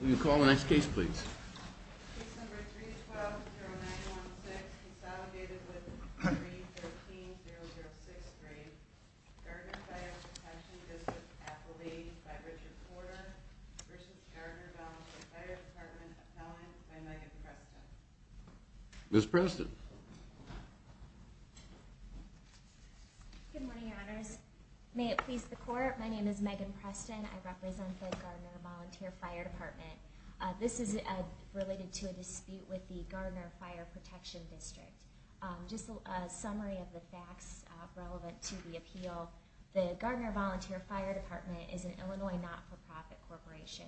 Will you call the next case please? Case number 312-0916, consolidated with 313-0063, Gardner Fire Protection District Appellee by Richard Porter v. Gardner Volunteer Fire Department Appellant by Megan Preston. Ms. Preston. Good morning, Your Honors. May it please the Court, my name is Megan Preston. I represent the Gardner Volunteer Fire Department. This is related to a dispute with the Gardner Fire Protection District. Just a summary of the facts relevant to the appeal. The Gardner Volunteer Fire Department is an Illinois not-for-profit corporation.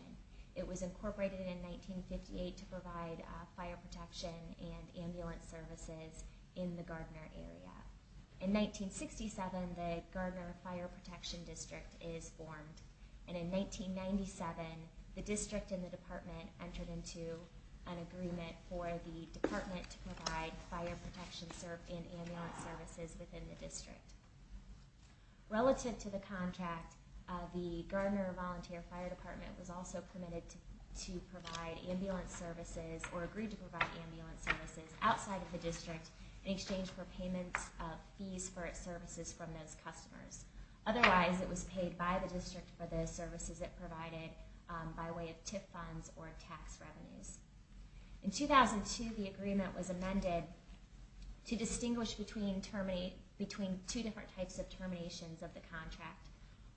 It was incorporated in 1958 to provide fire protection and ambulance services in the Gardner area. In 1967, the Gardner Fire Protection District is formed. And in 1997, the district and the department entered into an agreement for the department to provide fire protection and ambulance services within the district. Relative to the contract, the Gardner Volunteer Fire Department was also permitted to provide ambulance services or agreed to provide ambulance services outside of the district in exchange for payment fees for its services from those customers. Otherwise, it was paid by the district for the services it provided by way of TIP funds or tax revenues. In 2002, the agreement was amended to distinguish between two different types of terminations of the contract.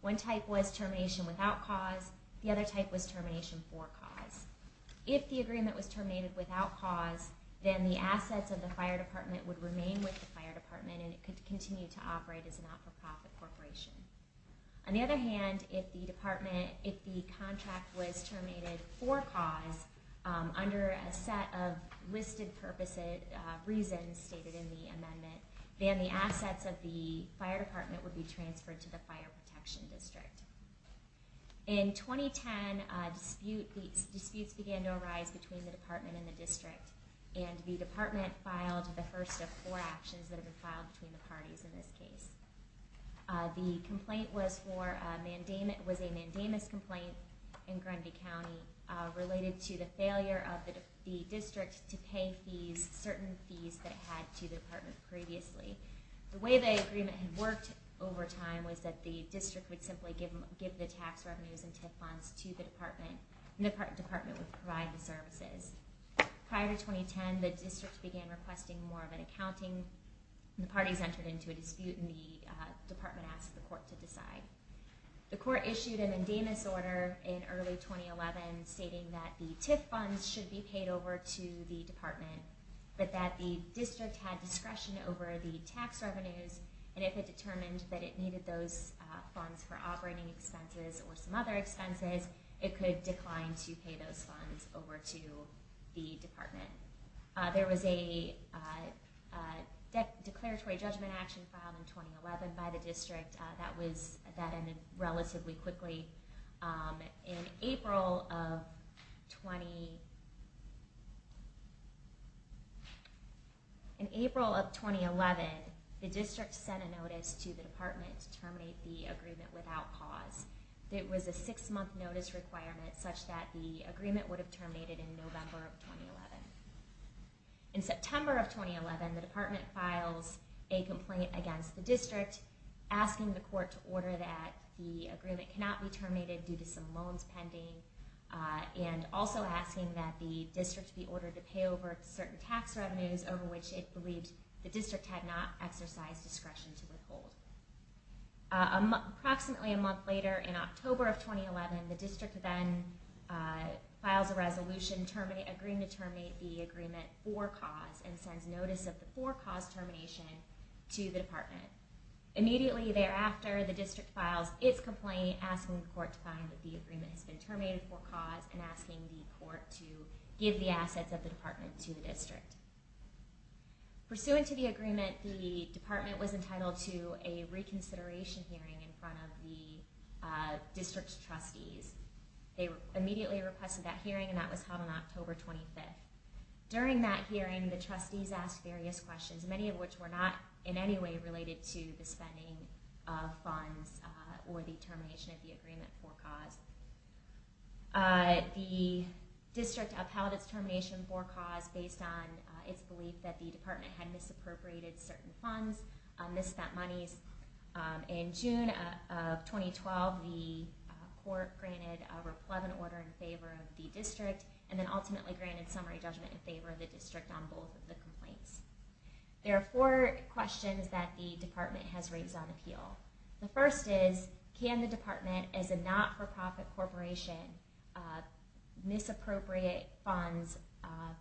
One type was termination without cause. The other type was termination for cause. If the agreement was terminated without cause, then the assets of the fire department would remain with the fire department and it could continue to operate as an not-for-profit corporation. On the other hand, if the contract was terminated for cause under a set of listed purposes stated in the amendment, then the assets of the fire department would be transferred to the fire protection district. In 2010, disputes began to arise between the department and the district, and the department filed the first of four actions that have been filed between the parties in this case. The complaint was a mandamus complaint in Grenby County related to the failure of the district to pay certain fees that it had to the department previously. The way the agreement had worked over time was that the district would simply give the tax revenues and TIP funds to the department, and the department would provide the services. Prior to 2010, the district began requesting more of an accounting, and the parties entered into a dispute and the department asked the court to decide. The court issued a mandamus order in early 2011 stating that the TIP funds should be paid over to the department, but that the district had discretion over the tax revenues, and if it determined that it needed those funds for operating expenses or some other expenses, it could decline to pay those funds over to the department. There was a declaratory judgment action filed in 2011 by the district that ended relatively quickly. In April of 2011, the district sent a notice to the department to terminate the agreement without cause. It was a six month notice requirement such that the agreement would have terminated in November of 2011. In September of 2011, the department filed a complaint against the district, asking the court to order that the agreement cannot be terminated due to some loans pending, and also asking that the district be ordered to pay over certain tax revenues over which it believed the district had not exercised discretion to withhold. Approximately a month later, in October of 2011, the district then files a resolution agreeing to terminate the agreement for cause, and sends notice of the for cause termination to the department. Immediately thereafter, the district files its complaint, asking the court to find that the agreement has been terminated for cause, and asking the court to give the assets of the department to the district. Pursuant to the agreement, the department was entitled to a reconsideration hearing in front of the district's trustees. They immediately requested that hearing, and that was held on October 25th. During that hearing, the trustees asked various questions, many of which were not in any way related to the spending of funds or the termination of the agreement for cause. The district upheld its termination for cause based on its belief that the department had misappropriated certain funds, misspent monies. In June of 2012, the court granted a replevant order in favor of the district, and then ultimately granted summary judgment in favor of the district on both of the complaints. There are four questions that the department has raised on appeal. The first is, can the department, as a not-for-profit corporation, misappropriate funds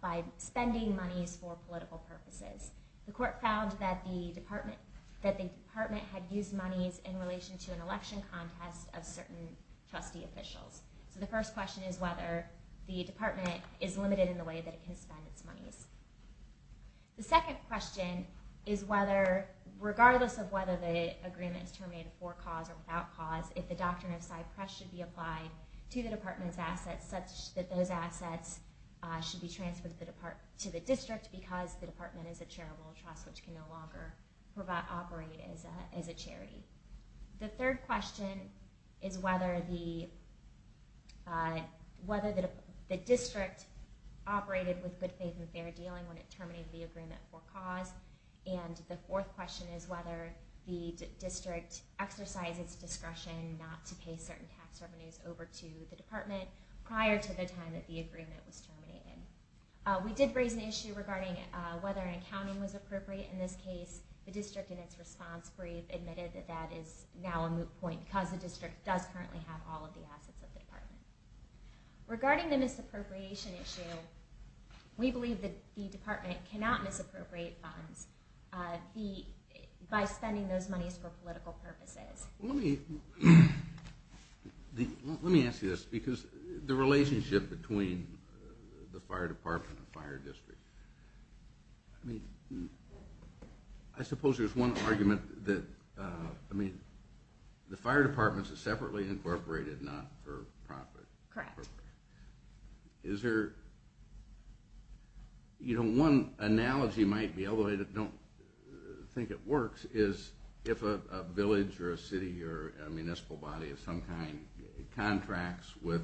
by spending monies for political purposes? The court found that the department had used monies in relation to an election contest of certain trustee officials. So the first question is whether the department is limited in the way that it can spend its monies. The second question is whether, regardless of whether the agreement is terminated for cause or without cause, if the doctrine of side-press should be applied to the department's assets such that those assets should be transferred to the district because the department is a charitable trust which can no longer operate as a charity. The third question is whether the district operated with good faith and fair dealing when it terminated the agreement for cause. And the fourth question is whether the district exercised its discretion not to pay certain tax revenues over to the department prior to the time that the agreement was terminated. We did raise an issue regarding whether an accounting was appropriate. In this case, the district in its response brief admitted that that is now a moot point because the district does currently have all of the assets of the department. Regarding the misappropriation issue, we believe that the department cannot misappropriate funds by spending those monies for political purposes. Let me ask you this because the relationship between the fire department and the fire district, I suppose there's one argument that the fire department is separately incorporated, not for profit. Correct. One analogy might be, although I don't think it works, is if a village or a city or a municipal body of some kind contracts with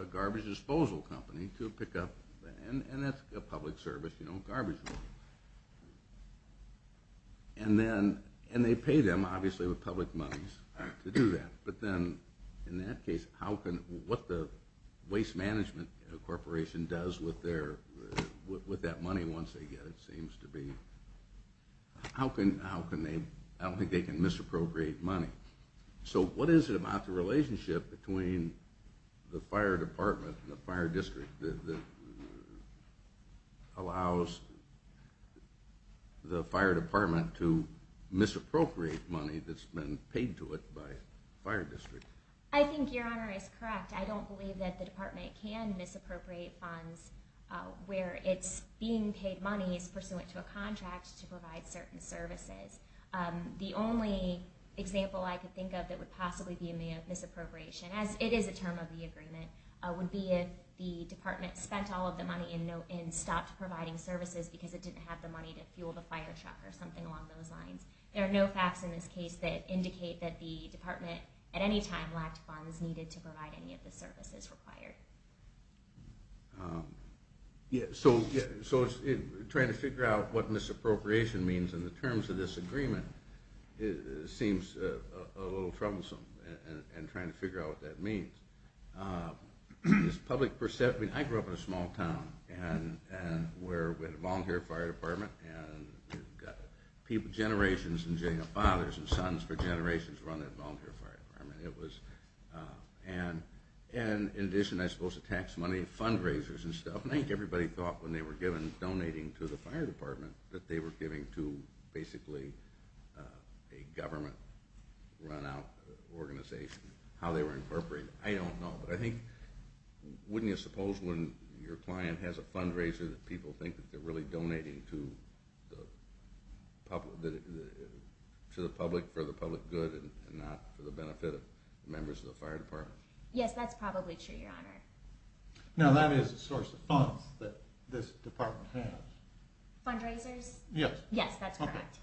a garbage disposal company to pick up, and that's a public service, garbage disposal, and they pay them obviously with public monies to do that. But then in that case, what the waste management corporation does with that money once they get it seems to be, I don't think they can misappropriate money. So what is it about the relationship between the fire department and the fire district that allows the fire department to misappropriate money that's been paid to it by the fire district? I think your honor is correct. I don't believe that the department can misappropriate funds where it's being paid monies pursuant to a contract to provide certain services. The only example I can think of that would possibly be a misappropriation, as it is a term of the agreement, would be if the department spent all of the money and stopped providing services because it didn't have the money to fuel the fire truck or something along those lines. There are no facts in this case that indicate that the department at any time lacked funds needed to provide any of the services required. So trying to figure out what misappropriation means in the terms of this agreement seems a little troublesome in trying to figure out what that means. I grew up in a small town where we had a volunteer fire department and we've got generations and fathers and sons for generations running a volunteer fire department. In addition I suppose to tax money, fundraisers and stuff, I think everybody thought when they were donating to the fire department that they were giving to basically a government run out organization. I don't know, but I think, wouldn't you suppose when your client has a fundraiser that people think that they're really donating to the public for the public good and not for the benefit of members of the fire department? Yes, that's probably true, your honor. Now that is a source of funds that this department has. Fundraisers? Yes. Yes, that's correct.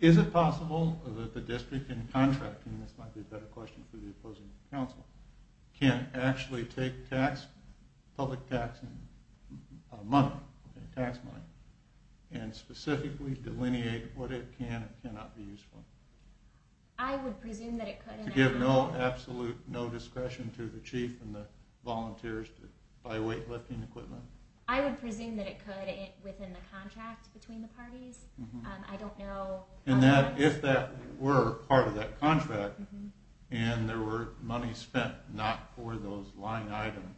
Is it possible that the district in contracting, this might be a better question for the opposing counsel, can actually take public tax money and specifically delineate what it can and cannot be used for? I would presume that it could. To give no absolute discretion to the chief and the volunteers to buy weight lifting equipment? I would presume that it could within the contract between the parties. I don't know. And if that were part of that contract and there were money spent not for those line items,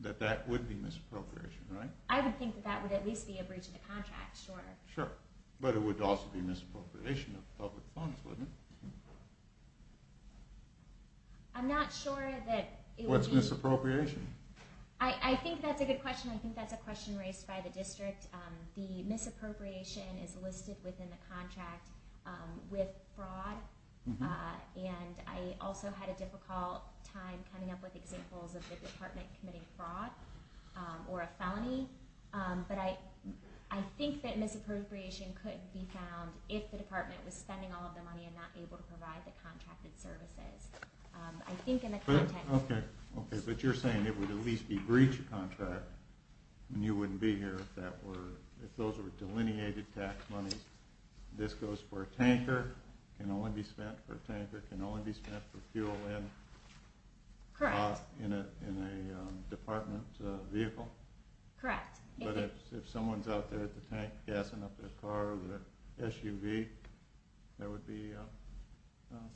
that that would be misappropriation, right? I would think that that would at least be a breach of the contract, sure. Sure, but it would also be misappropriation of public funds, wouldn't it? I'm not sure that it would be. What's misappropriation? I think that's a good question. I think that's a question raised by the district. The misappropriation is listed within the contract with fraud. And I also had a difficult time coming up with examples of the department committing fraud or a felony. But I think that misappropriation could be found if the department was spending all of the money and not able to provide the contracted services. I think in the context. Okay. But you're saying it would at least be breach of contract and you wouldn't be here if those were delineated tax monies. This goes for a tanker, can only be spent for a tanker, can only be spent for fuel in a department vehicle? Correct. But if someone's out there at the tank gassing up their car with an SUV, that would be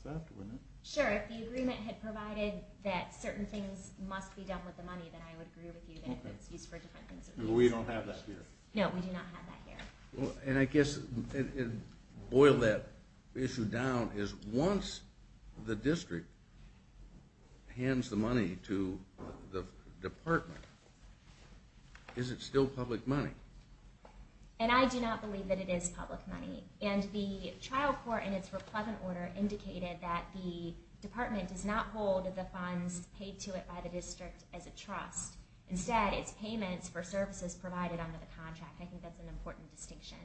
theft, wouldn't it? Sure. If the agreement had provided that certain things must be done with the money, then I would agree with you that it's used for different things. We don't have that here. No, we do not have that here. And I guess to boil that issue down is once the district hands the money to the department, is it still public money? And I do not believe that it is public money. And the trial court in its replevant order indicated that the department does not hold the funds paid to it by the district as a trust. Instead, it's payments for services provided under the contract. I think that's an important distinction.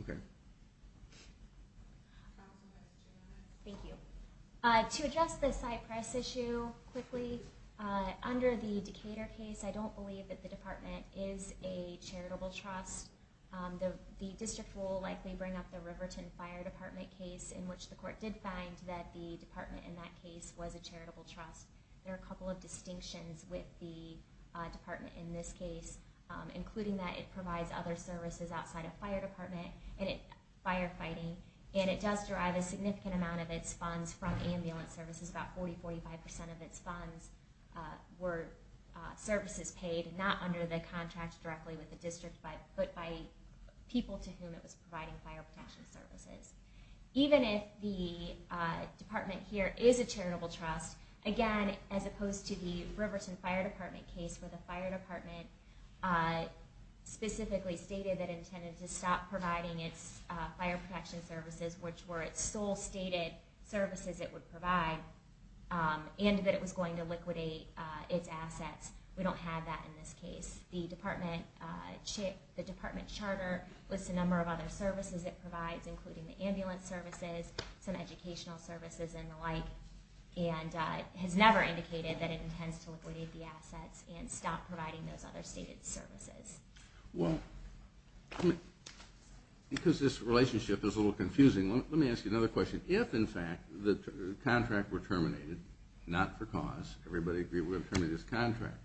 Okay. Thank you. To address the Cypress issue quickly, under the Decatur case, I don't believe that the department is a charitable trust. The district will likely bring up the Riverton Fire Department case, in which the court did find that the department in that case was a charitable trust. There are a couple of distinctions with the department in this case, including that it provides other services outside of fire department, firefighting. And it does derive a significant amount of its funds from ambulance services. About 40%, 45% of its funds were services paid, not under the contract directly with the district, but by people to whom it was providing fire protection services. Even if the department here is a charitable trust, again, as opposed to the Riverton Fire Department case, where the fire department specifically stated that it intended to stop providing its fire protection services, which were its sole stated services it would provide, and that it was going to liquidate its assets. We don't have that in this case. The department charter lists a number of other services it provides, including the ambulance services, some educational services, and the like, and has never indicated that it intends to liquidate the assets and stop providing those other stated services. Well, because this relationship is a little confusing, let me ask you another question. If, in fact, the contract were terminated, not for cause, everybody agree we're going to terminate this contract,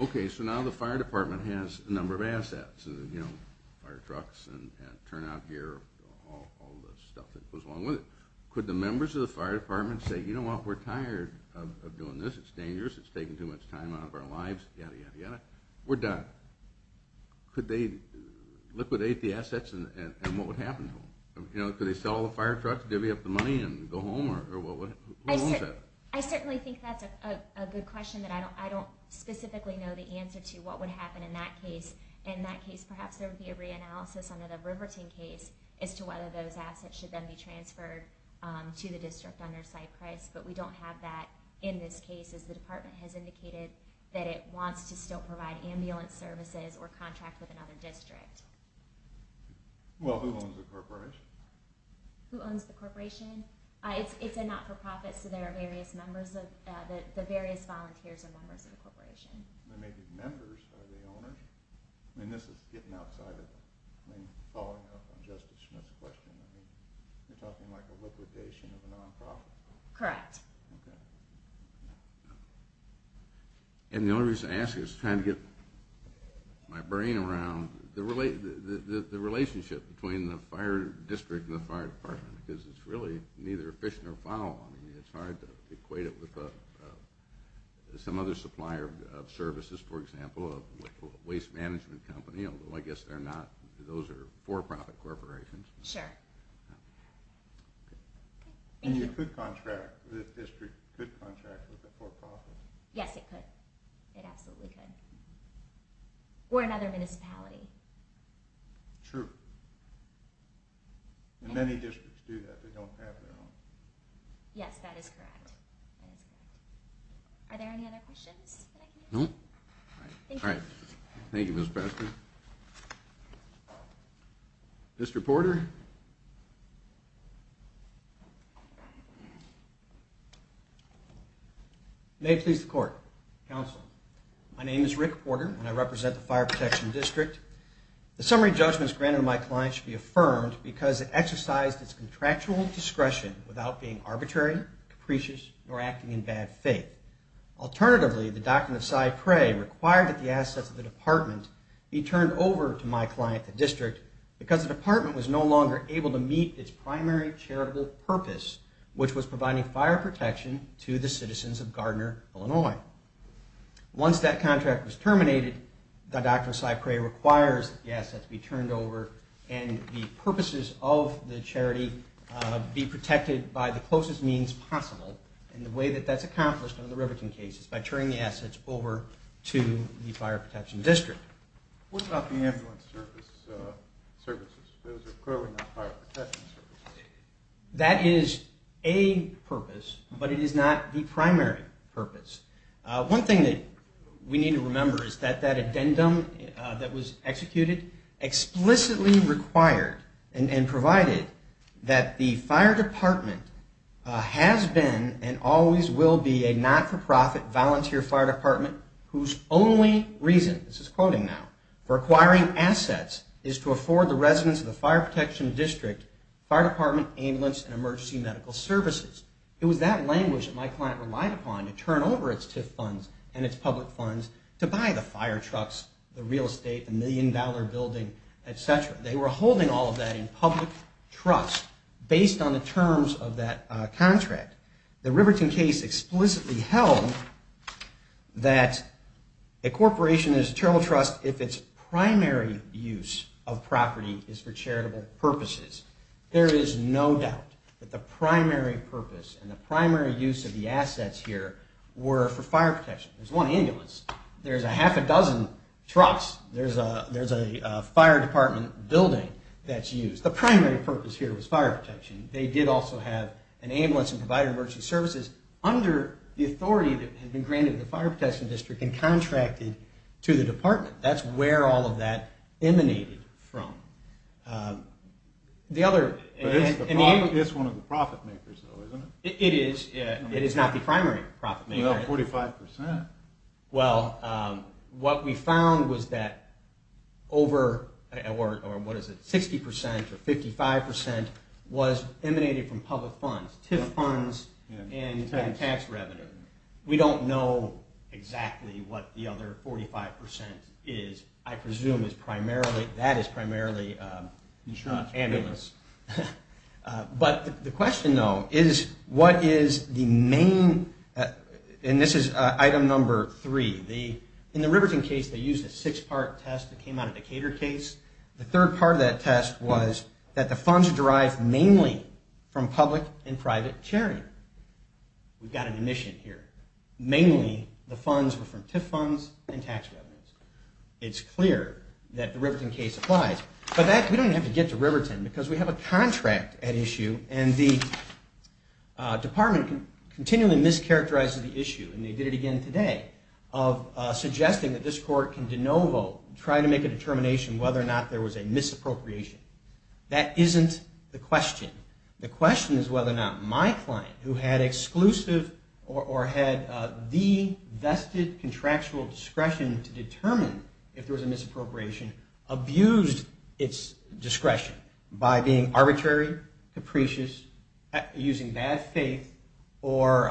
okay, so now the fire department has a number of assets, you know, fire trucks and turn out gear, all the stuff that goes along with it. Could the members of the fire department say, you know what, we're tired of doing this, it's dangerous, it's taking too much time out of our lives, yadda, yadda, yadda, we're done. Could they liquidate the assets and what would happen to them? You know, could they sell all the fire trucks, divvy up the money, and go home? I certainly think that's a good question, but I don't specifically know the answer to what would happen in that case. In that case, perhaps there would be a reanalysis under the Riverton case as to whether those assets should then be transferred to the district under Cypress, but we don't have that in this case, as the department has indicated that it wants to still provide ambulance services or contract with another district. Well, who owns the corporation? Who owns the corporation? It's a not-for-profit, so there are various members, the various volunteers are members of the corporation. They may be members, are they owners? I mean, this is getting outside of it. I mean, following up on Justice Smith's question, I mean, you're talking like a liquidation of a non-profit? Correct. Okay. And the only reason I ask is to try to get my brain around the relationship between the fire district and the fire department, because it's really neither fish nor fowl. I mean, it's hard to equate it with some other supplier of services, for example, a waste management company, although I guess they're not, those are for-profit corporations. Sure. And you could contract, the district could contract with a for-profit? Yes, it could. It absolutely could. Or another municipality. True. And many districts do that, they don't have their own. Yes, that is correct. Are there any other questions? No. Thank you. Thank you, Ms. Baxter. Mr. Porter? May it please the Court. Counsel. My name is Rick Porter, and I represent the Fire Protection District. The summary judgment granted to my client should be affirmed because it exercised its contractual discretion without being arbitrary, capricious, nor acting in bad faith. Alternatively, the Doctrine of Side Prey required that the assets of the department be turned over to my client, the district, because the department was no longer able to meet its primary charitable purpose, which was providing fire protection to the citizens of Gardner, Illinois. Once that contract was terminated, the Doctrine of Side Prey requires that the assets be turned over and the purposes of the charity be protected by the closest means possible, and the way that that's accomplished under the Riverton case is by turning the assets over to the Fire Protection District. What about the ambulance services? Those are clearly not fire protection services. That is a purpose, but it is not the primary purpose. One thing that we need to remember is that that addendum that was executed explicitly required and provided that the fire department has been and always will be a not-for-profit volunteer fire department whose only reason, this is quoting now, for acquiring assets is to afford the residents of the Fire Protection District fire department, ambulance, and emergency medical services. It was that language that my client relied upon to turn over its TIF funds and its public funds to buy the fire trucks, the real estate, the million-dollar building, et cetera. They were holding all of that in public trust based on the terms of that contract. The Riverton case explicitly held that a corporation is a charitable trust if its primary use of property is for charitable purposes. There is no doubt that the primary purpose and the primary use of the assets here were for fire protection. There's one ambulance. There's a half a dozen trucks. There's a fire department building that's used. The primary purpose here was fire protection. They did also have an ambulance and provide emergency services under the authority that had been granted to the Fire Protection District and contracted to the department. That's where all of that emanated from. It's one of the profit makers, though, isn't it? It is. It is not the primary profit maker. You have 45%. What we found was that over 60% or 55% was emanating from public funds, TIF funds and tax revenue. We don't know exactly what the other 45% is. I presume that is primarily ambulance. The question, though, is what is the main... This is item number three. In the Riverton case, they used a six-part test that came out of the Cater case. The third part of that test was that the funds derived mainly from public and private chairing. We've got an omission here. Mainly, the funds were from TIF funds and tax revenues. It's clear that the Riverton case applies. We don't even have to get to Riverton because we have a contract at issue. The department continually mischaracterizes the issue, and they did it again today, of suggesting that this court can de novo try to make a determination whether or not there was a misappropriation. That isn't the question. The question is whether or not my client, who had exclusive or had the vested contractual discretion to determine if there was a misappropriation, abused its discretion by being arbitrary, capricious, using bad faith, or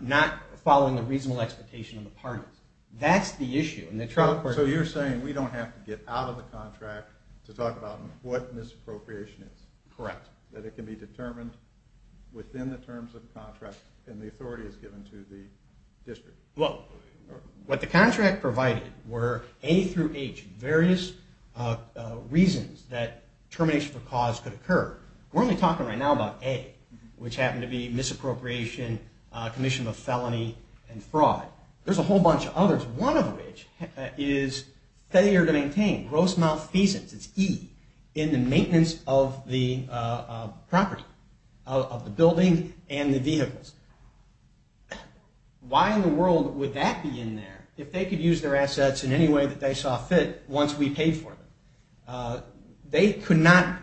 not following a reasonable expectation of the parties. That's the issue. So you're saying we don't have to get out of the contract to talk about what misappropriation is. Correct. That it can be determined within the terms of contract and the authority is given to the district. Well, what the contract provided were A through H, various reasons that termination of a cause could occur. We're only talking right now about A, which happened to be misappropriation, commission of a felony, and fraud. There's a whole bunch of others, one of which is failure to maintain gross malfeasance, it's E, in the maintenance of the property, of the building and the vehicles. Why in the world would that be in there if they could use their assets in any way that they saw fit once we paid for them? They could not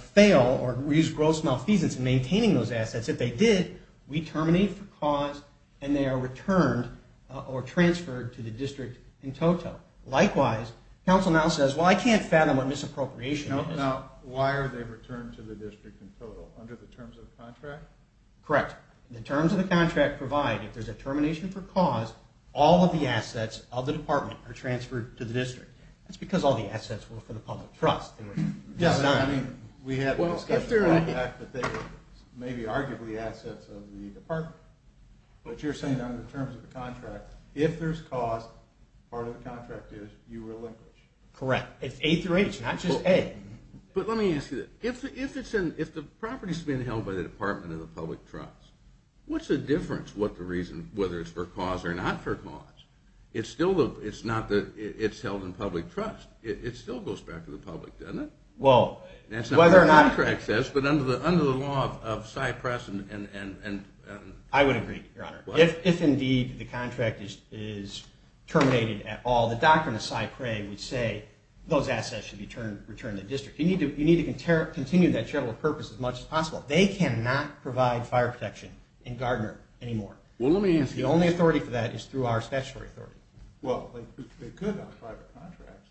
fail or use gross malfeasance in maintaining those assets. If they did, we terminate the cause and they are returned or transferred to the district in total. Likewise, counsel now says, well, I can't fathom what misappropriation is. Now, why are they returned to the district in total? Under the terms of the contract? Correct. The terms of the contract provide, if there's a termination for cause, all of the assets of the department are transferred to the district. That's because all the assets were for the public trust. I mean, we have discussed the fact that they were maybe arguably assets of the department, but you're saying under the terms of the contract, if there's cause, part of the contract is you relinquish. Correct. It's A through H, not just A. But let me ask you this. If the property has been held by the department of the public trust, what's the difference what the reason, whether it's for cause or not for cause? It's held in public trust. It still goes back to the public, doesn't it? That's not what the contract says, but under the law of Cypress and— I would agree, Your Honor. If indeed the contract is terminated at all, the doctrine of Cypress would say those assets should be returned to the district. You need to continue that charitable purpose as much as possible. They cannot provide fire protection in Gardner anymore. The only authority for that is through our statutory authority. Well, they could on private contracts.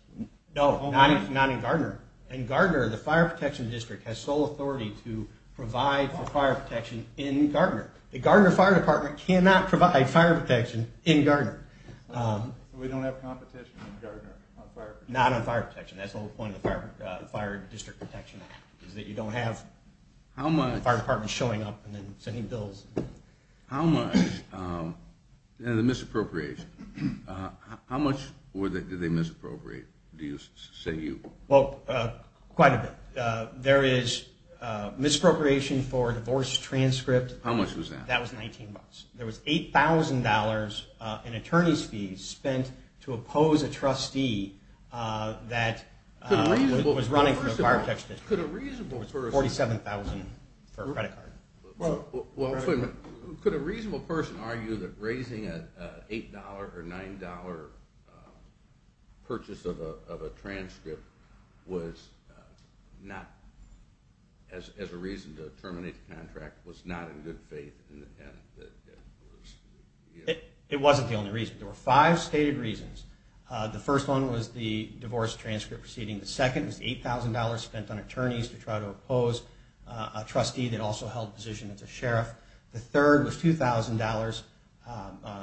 No, not in Gardner. In Gardner, the fire protection district has sole authority to provide for fire protection in Gardner. The Gardner Fire Department cannot provide fire protection in Gardner. So we don't have competition in Gardner on fire protection? Not on fire protection. That's the whole point of the Fire District Protection Act, is that you don't have the fire department showing up and then sending bills. How much—and the misappropriation. How much did they misappropriate, do you say you? Well, quite a bit. There is misappropriation for divorce transcript. How much was that? That was $19. There was $8,000 in attorney's fees spent to oppose a trustee that was running for the fire protection district. It was $47,000 for a credit card. Well, could a reasonable person argue that raising an $8 or $9 purchase of a transcript was not, as a reason to terminate the contract, was not in good faith? It wasn't the only reason. There were five stated reasons. The first one was the divorce transcript proceeding. The second was $8,000 spent on attorneys to try to oppose a trustee that also held a position as a sheriff. The third was $2,000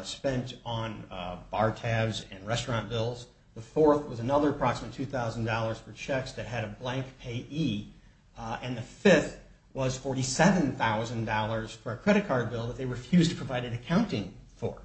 spent on bar tabs and restaurant bills. The fourth was another approximate $2,000 for checks that had a blank payee. And the fifth was $47,000 for a credit card bill that they refused to provide an accounting for.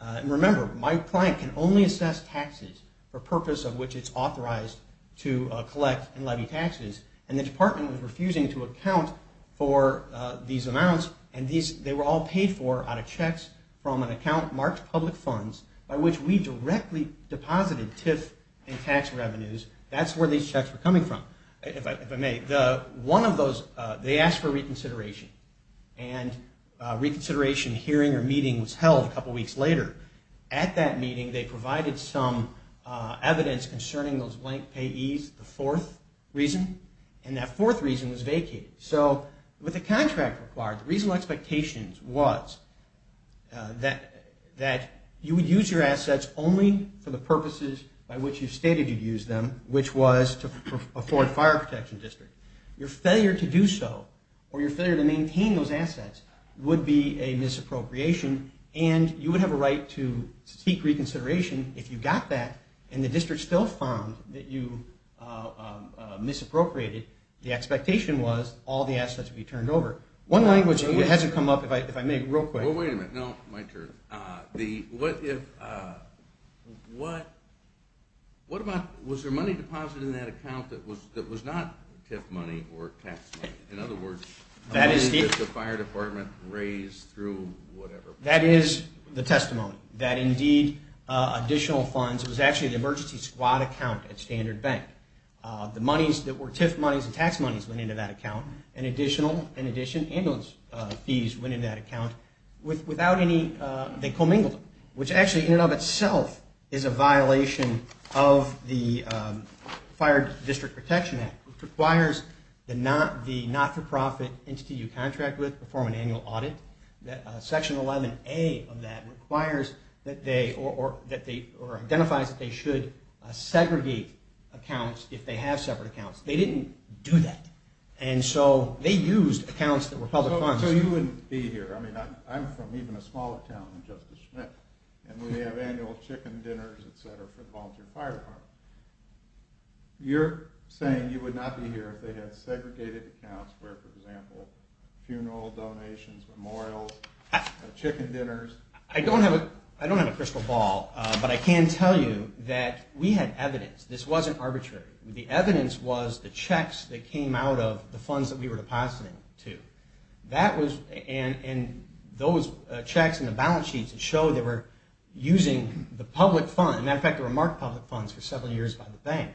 And remember, my client can only assess taxes for purpose of which it's authorized to collect and levy taxes. And the department was refusing to account for these amounts. They were all paid for out of checks from an account marked public funds by which we directly deposited TIF and tax revenues. That's where these checks were coming from, if I may. One of those, they asked for reconsideration. And a reconsideration hearing or meeting was held a couple weeks later. At that meeting, they provided some evidence concerning those blank payees, the fourth reason. And that fourth reason was vacated. So with the contract required, the reasonable expectation was that you would use your assets only for the purposes by which you stated you'd use them, which was to afford fire protection district. Your failure to do so or your failure to maintain those assets would be a misappropriation. And you would have a right to seek reconsideration if you got that and the district still found that you misappropriated. The expectation was all the assets would be turned over. One language hasn't come up, if I may, real quick. Well, wait a minute. No, my turn. What if, what, what about, was there money deposited in that account that was not TIF money or tax money? In other words, money that the fire department raised through whatever. That is the testimony. That indeed, additional funds, it was actually the emergency squad account at Standard Bank. The monies that were TIF monies and tax monies went into that account. And additional, in addition, ambulance fees went into that account without any, they commingled. Which actually, in and of itself, is a violation of the Fire District Protection Act, which requires the not-for-profit entity you contract with to perform an annual audit. Section 11A of that requires that they, or identifies that they should segregate accounts if they have separate accounts. They didn't do that. And so they used accounts that were public funds. So you wouldn't be here. I mean, I'm from even a smaller town than Justice Schmidt. And we have annual chicken dinners, et cetera, for the volunteer fire department. You're saying you would not be here if they had segregated accounts where, for example, funeral donations, memorials, chicken dinners. I don't have a crystal ball, but I can tell you that we had evidence. This wasn't arbitrary. The evidence was the checks that came out of the funds that we were depositing to. That was, and those checks in the balance sheets, it showed they were using the public fund. As a matter of fact, they were marked public funds for several years by the bank.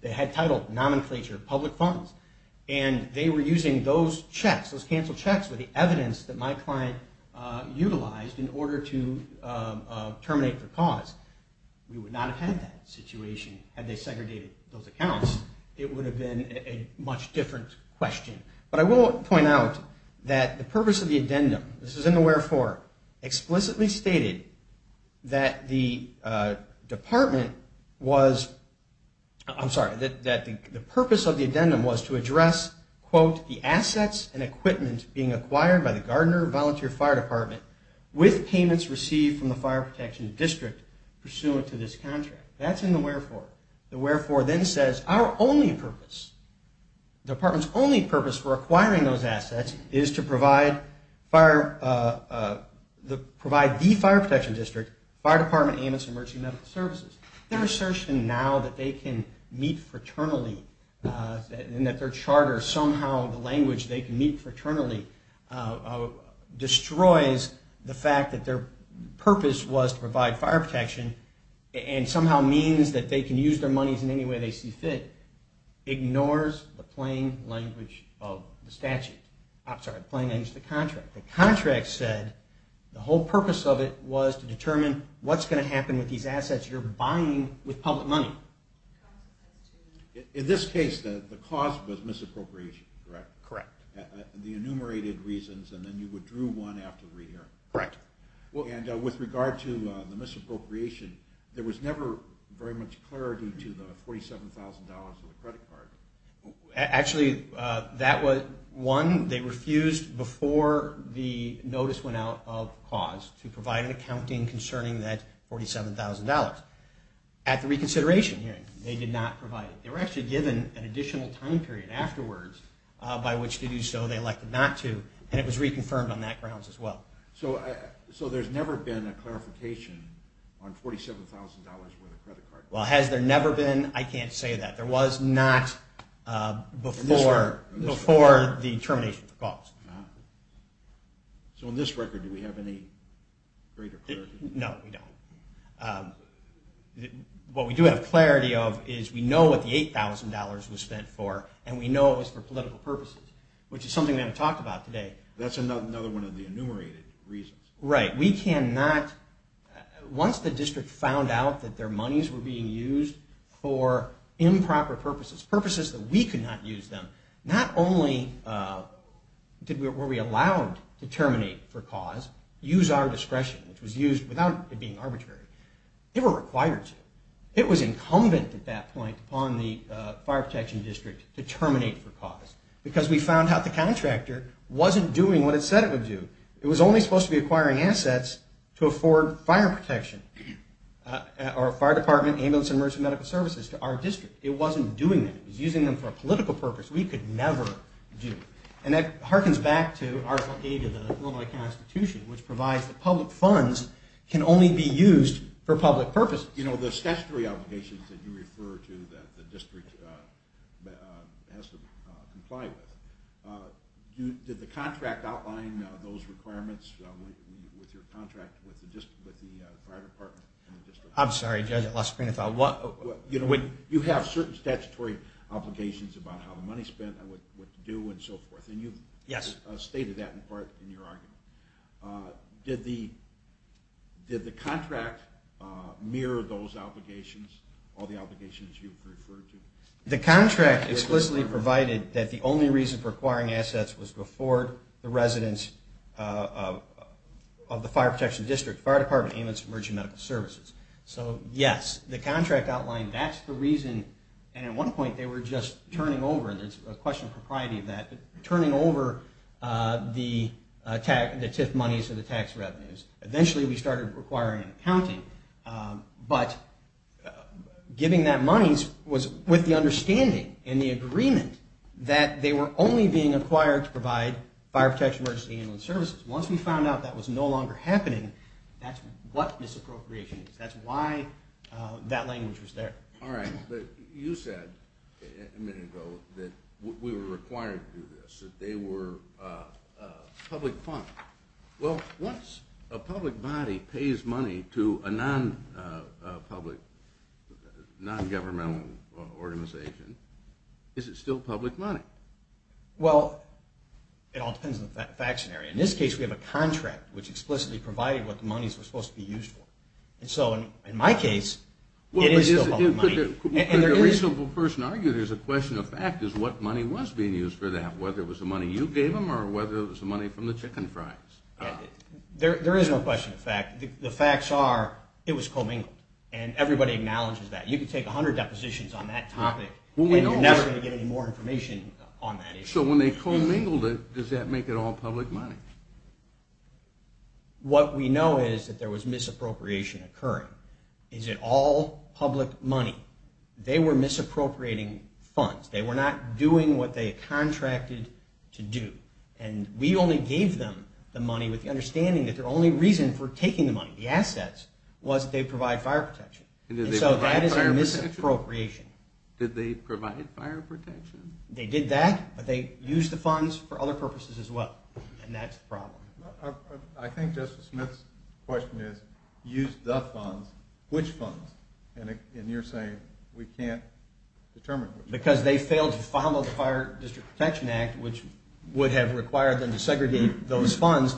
They had title, nomenclature, public funds. And they were using those checks, those canceled checks, with the evidence that my client utilized in order to terminate the cause. We would not have had that situation had they segregated those accounts. It would have been a much different question. But I will point out that the purpose of the addendum, this is in the wherefore, explicitly stated that the department was, I'm sorry, that the purpose of the addendum was to address, quote, the assets and equipment being acquired by the Gardner Volunteer Fire Department with payments received from the Fire Protection District pursuant to this contract. That's in the wherefore. The wherefore then says our only purpose, the department's only purpose for acquiring those assets is to provide fire, provide the Fire Protection District, Fire Department, and its emergency medical services. Their assertion now that they can meet fraternally and that their charter, somehow the language they can meet fraternally, destroys the fact that their purpose was to provide fire protection and somehow means that they can use their monies in any way they see fit, ignores the plain language of the statute. I'm sorry, plain language of the contract. The contract said the whole purpose of it was to determine what's going to happen with these assets you're buying with public money. In this case, the cause was misappropriation, correct? Correct. The enumerated reasons, and then you withdrew one after the re-hearing. Correct. And with regard to the misappropriation, there was never very much clarity to the $47,000 of the credit card. Actually, one, they refused before the notice went out of cause to provide an accounting concerning that $47,000. At the reconsideration hearing, they did not provide it. They were actually given an additional time period afterwards by which to do so. They elected not to, and it was reconfirmed on that grounds as well. So there's never been a clarification on $47,000 where the credit card was. Well, has there never been? I can't say that. There was not before the termination of the cause. So on this record, do we have any greater clarity? No, we don't. What we do have clarity of is we know what the $8,000 was spent for, and we know it was for political purposes, which is something we haven't talked about today. That's another one of the enumerated reasons. Right. Once the district found out that their monies were being used for improper purposes, purposes that we could not use them, not only were we allowed to terminate for cause, use our discretion, which was used without it being arbitrary, they were required to. It was incumbent at that point upon the Fire Protection District to terminate for cause because we found out the contractor wasn't doing what it said it would do. It was only supposed to be acquiring assets to afford fire protection or fire department, ambulance, and emergency medical services to our district. It wasn't doing that. It was using them for a political purpose we could never do. And that harkens back to Article 8 of the Illinois Constitution, which provides that public funds can only be used for public purposes. The statutory obligations that you refer to that the district has to comply with, did the contract outline those requirements with your contract with the fire department? I'm sorry, Judge, I lost my train of thought. You have certain statutory obligations about how the money is spent and what to do and so forth, and you've stated that in part in your argument. Did the contract mirror those obligations, all the obligations you've referred to? The contract explicitly provided that the only reason for acquiring assets was to afford the residents of the Fire Protection District, fire department, ambulance, and emergency medical services. So, yes, the contract outlined that's the reason, and at one point they were just turning over, and there's a question of propriety of that, turning over the TIF monies to the tax revenues. Eventually we started requiring an accounting, but giving that money was with the understanding and the agreement that they were only being acquired to provide fire protection, emergency ambulance services. Once we found out that was no longer happening, that's what misappropriation is. That's why that language was there. All right, but you said a minute ago that we were required to do this, that they were public funds. Well, once a public body pays money to a non-public, non-governmental organization, is it still public money? Well, it all depends on the fact scenario. In this case, we have a contract which explicitly provided what the monies were supposed to be used for. So, in my case, it is still public money. Could a reasonable person argue there's a question of fact is what money was being used for that, whether it was the money you gave them or whether it was the money from the chicken fries? There is no question of fact. The facts are it was commingled, and everybody acknowledges that. You can take 100 depositions on that topic, and you're never going to get any more information on that issue. So when they commingled it, does that make it all public money? What we know is that there was misappropriation occurring. Is it all public money? They were misappropriating funds. They were not doing what they contracted to do. And we only gave them the money with the understanding that their only reason for taking the money, the assets, was that they provide fire protection. And so that is a misappropriation. Did they provide fire protection? They did that, but they used the funds for other purposes as well. And that's the problem. I think Justice Smith's question is use the funds. Which funds? And you're saying we can't determine which ones. Because they failed to follow the Fire District Protection Act, which would have required them to segregate those funds,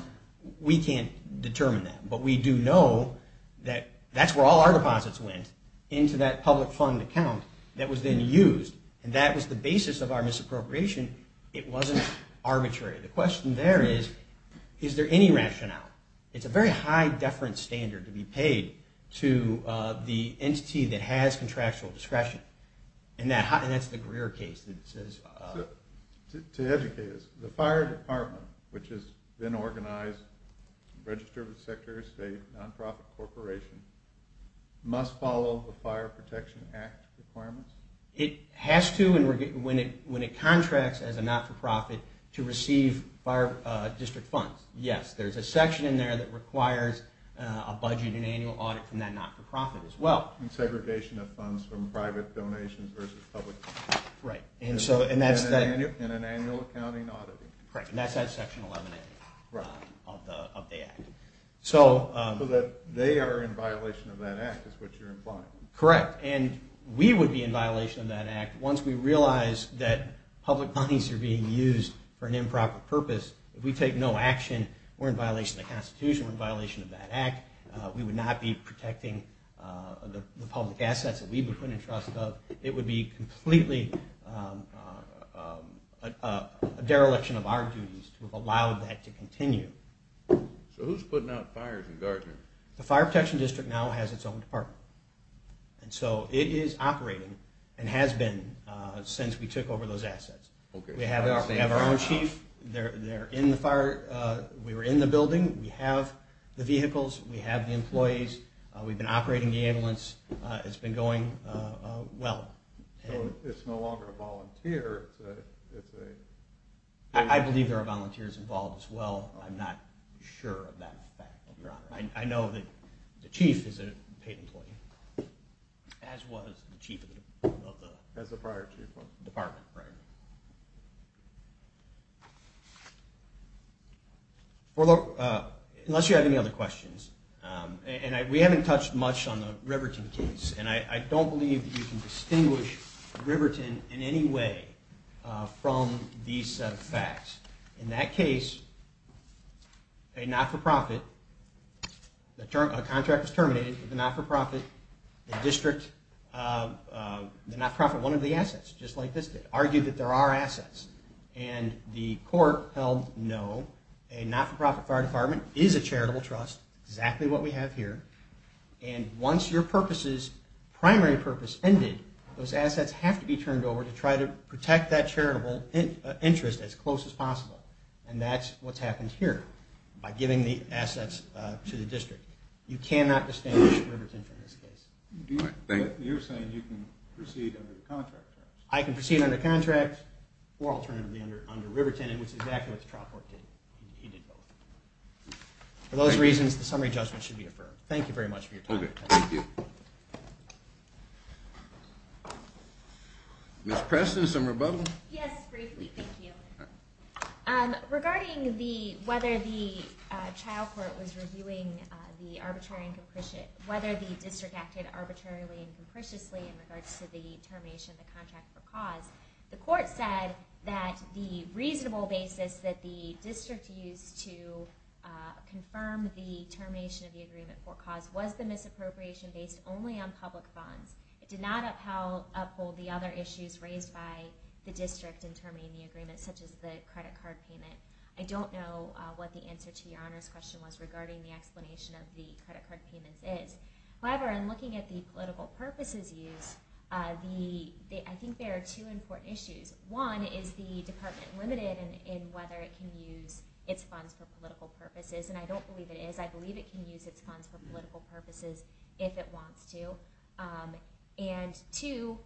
we can't determine that. But we do know that that's where all our deposits went, into that public fund account that was then used. And that was the basis of our misappropriation. It wasn't arbitrary. The question there is, is there any rationale? It's a very high deference standard to be paid to the entity that has contractual discretion. And that's the Greer case. To educate us, the fire department, which has been organized, registered with Secretary of State, nonprofit corporation, must follow the Fire Protection Act requirements? It has to, when it contracts as a not-for-profit, to receive fire district funds. Yes, there's a section in there that requires a budget and annual audit from that not-for-profit as well. And segregation of funds from private donations versus public. Right. And an annual accounting audit. Correct, and that's that section 11A of the act. So they are in violation of that act, is what you're implying. Correct. And we would be in violation of that act once we realize that public monies are being used for an improper purpose. If we take no action, we're in violation of the Constitution, we're in violation of that act. We would not be protecting the public assets that we've been put in trust of. It would be completely a dereliction of our duties to have allowed that to continue. So who's putting out fires in Gardner? The Fire Protection District now has its own department. And so it is operating and has been since we took over those assets. We have our own chief. They're in the fire. We were in the building. We have the vehicles. We have the employees. We've been operating the ambulance. It's been going well. So it's no longer a volunteer. I believe there are volunteers involved as well. I'm not sure of that fact, Your Honor. I know that the chief is a paid employee, as was the chief of the department. Unless you have any other questions. And we haven't touched much on the Riverton case. And I don't believe that you can distinguish Riverton in any way from these set of facts. In that case, a not-for-profit, a contract was terminated. The not-for-profit, the district, the not-for-profit, one of the assets, just like this, argued that there are assets. And the court held no. A not-for-profit fire department is a charitable trust, exactly what we have here. And once your primary purpose ended, those assets have to be turned over to try to protect that charitable interest as close as possible. And that's what's happened here by giving the assets to the district. You cannot distinguish Riverton from this case. You're saying you can proceed under the contract terms. I can proceed under contract or alternatively under Riverton, which is exactly what the trial court did. He did both. For those reasons, the summary judgment should be affirmed. Thank you very much for your time. Okay, thank you. Ms. Preston, some rebuttal? Yes, briefly. Thank you. Regarding whether the district acted arbitrarily and capriciously in regards to the termination of the contract for cause, the court said that the reasonable basis that the district used to confirm the termination of the agreement for cause was the misappropriation based only on public funds. It did not uphold the other issues raised by the district in terminating the agreement, such as the credit card payment. I don't know what the answer to your Honor's question was regarding the explanation of the credit card payments is. However, in looking at the political purposes used, I think there are two important issues. One is the department limited in whether it can use its funds for political purposes, and I don't believe it is. I believe it can use its funds for political purposes if it wants to. And two,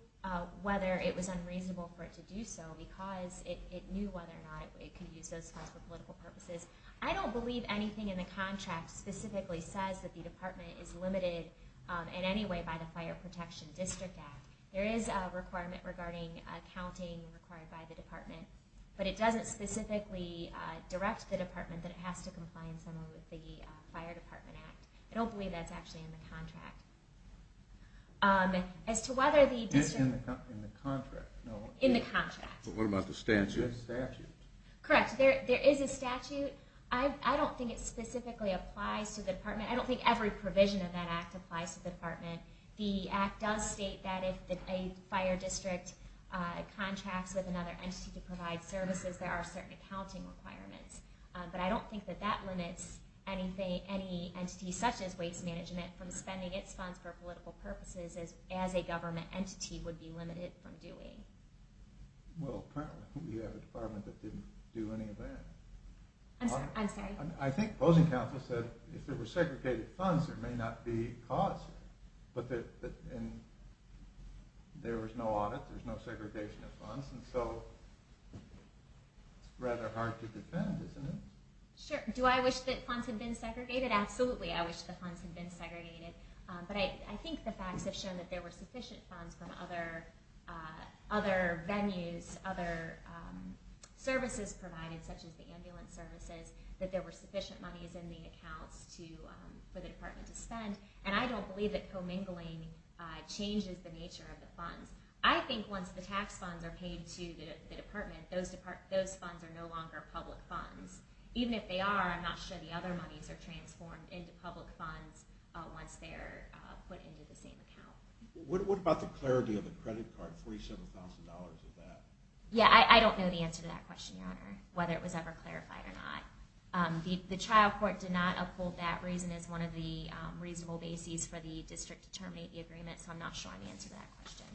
whether it was unreasonable for it to do so because it knew whether or not it could use those funds for political purposes. I don't believe anything in the contract specifically says that the department is limited in any way by the Fire Protection District Act. There is a requirement regarding accounting required by the department, but it doesn't specifically direct the department that it has to comply in some way with the Fire Department Act. I don't believe that's actually in the contract. As to whether the district... It's in the contract. In the contract. What about the statute? There's a statute. Correct. There is a statute. I don't think it specifically applies to the department. I don't think every provision of that act applies to the department. The act does state that if a fire district contracts with another entity to provide services, there are certain accounting requirements. But I don't think that that limits any entity such as Waste Management from spending its funds for political purposes as a government entity would be limited from doing. Well, apparently we have a department that didn't do any of that. I'm sorry. I think closing counsel said if there were segregated funds, there may not be a cause. But there was no audit. There was no segregation of funds. And so it's rather hard to defend, isn't it? Sure. Do I wish that funds had been segregated? Absolutely, I wish the funds had been segregated. But I think the facts have shown that there were sufficient funds from other venues, other services provided, such as the ambulance services, that there were sufficient monies in the accounts for the department to spend. I think once the tax funds are paid to the department, those funds are no longer public funds. Even if they are, I'm not sure the other monies are transformed into public funds once they're put into the same account. What about the clarity of the credit card, $47,000 of that? Yeah, I don't know the answer to that question, Your Honor, whether it was ever clarified or not. The trial court did not uphold that reason as one of the reasonable bases for the district to terminate the agreement, so I'm not sure I can answer that question.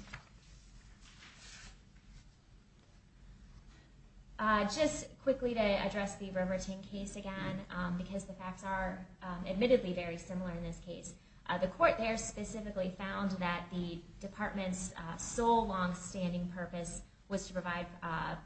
Just quickly to address the Remerton case again, because the facts are admittedly very similar in this case. The court there specifically found that the department's sole long-standing purpose was to provide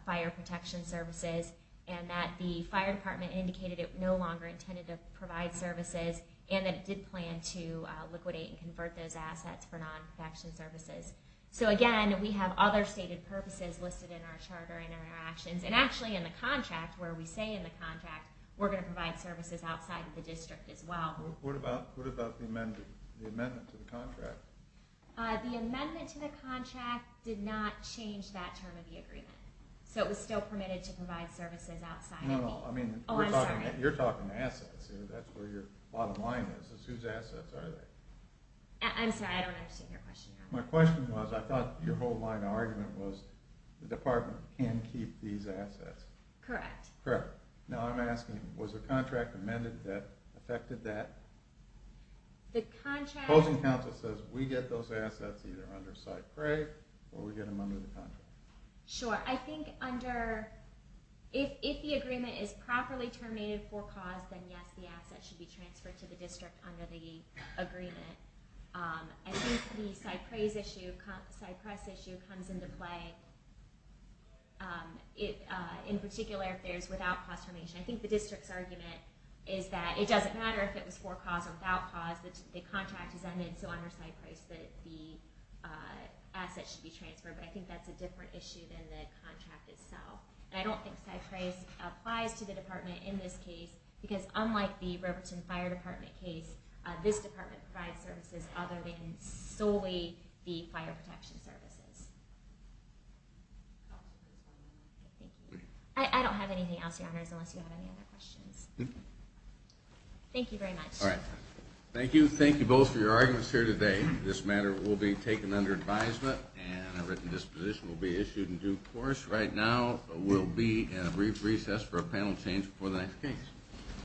fire protection services, and that the fire department indicated it no longer intended to provide services, and that it did plan to liquidate and convert those assets for non-protection services. So again, we have other stated purposes listed in our charter and in our actions, and actually in the contract, where we say in the contract we're going to provide services outside of the district as well. What about the amendment to the contract? The amendment to the contract did not change that term of the agreement, so it was still permitted to provide services outside of the district. You're talking assets. That's where your bottom line is. Whose assets are they? I'm sorry, I don't understand your question. My question was, I thought your whole line of argument was the department can keep these assets. Correct. Now I'm asking, was the contract amended that affected that? The contract... Closing counsel says we get those assets either under Site Crate or we get them under the contract. Sure. I think under... If the agreement is properly terminated for cause, then yes, the assets should be transferred to the district under the agreement. I think the Site Price issue comes into play, in particular if there's without cause termination. I think the district's argument is that it doesn't matter if it was for cause or without cause, the contract is amended so under Site Price that the assets should be transferred. I think that's a different issue than the contract itself. I don't think Site Price applies to the department in this case because unlike the Riverton Fire Department case, this department provides services other than solely the fire protection services. I don't have anything else, Your Honors, unless you have any other questions. Thank you very much. Thank you. Thank you both for your arguments here today. This matter will be taken under advisement and a written disposition will be issued in due course. Right now we'll be in a brief recess for a panel change before the next case.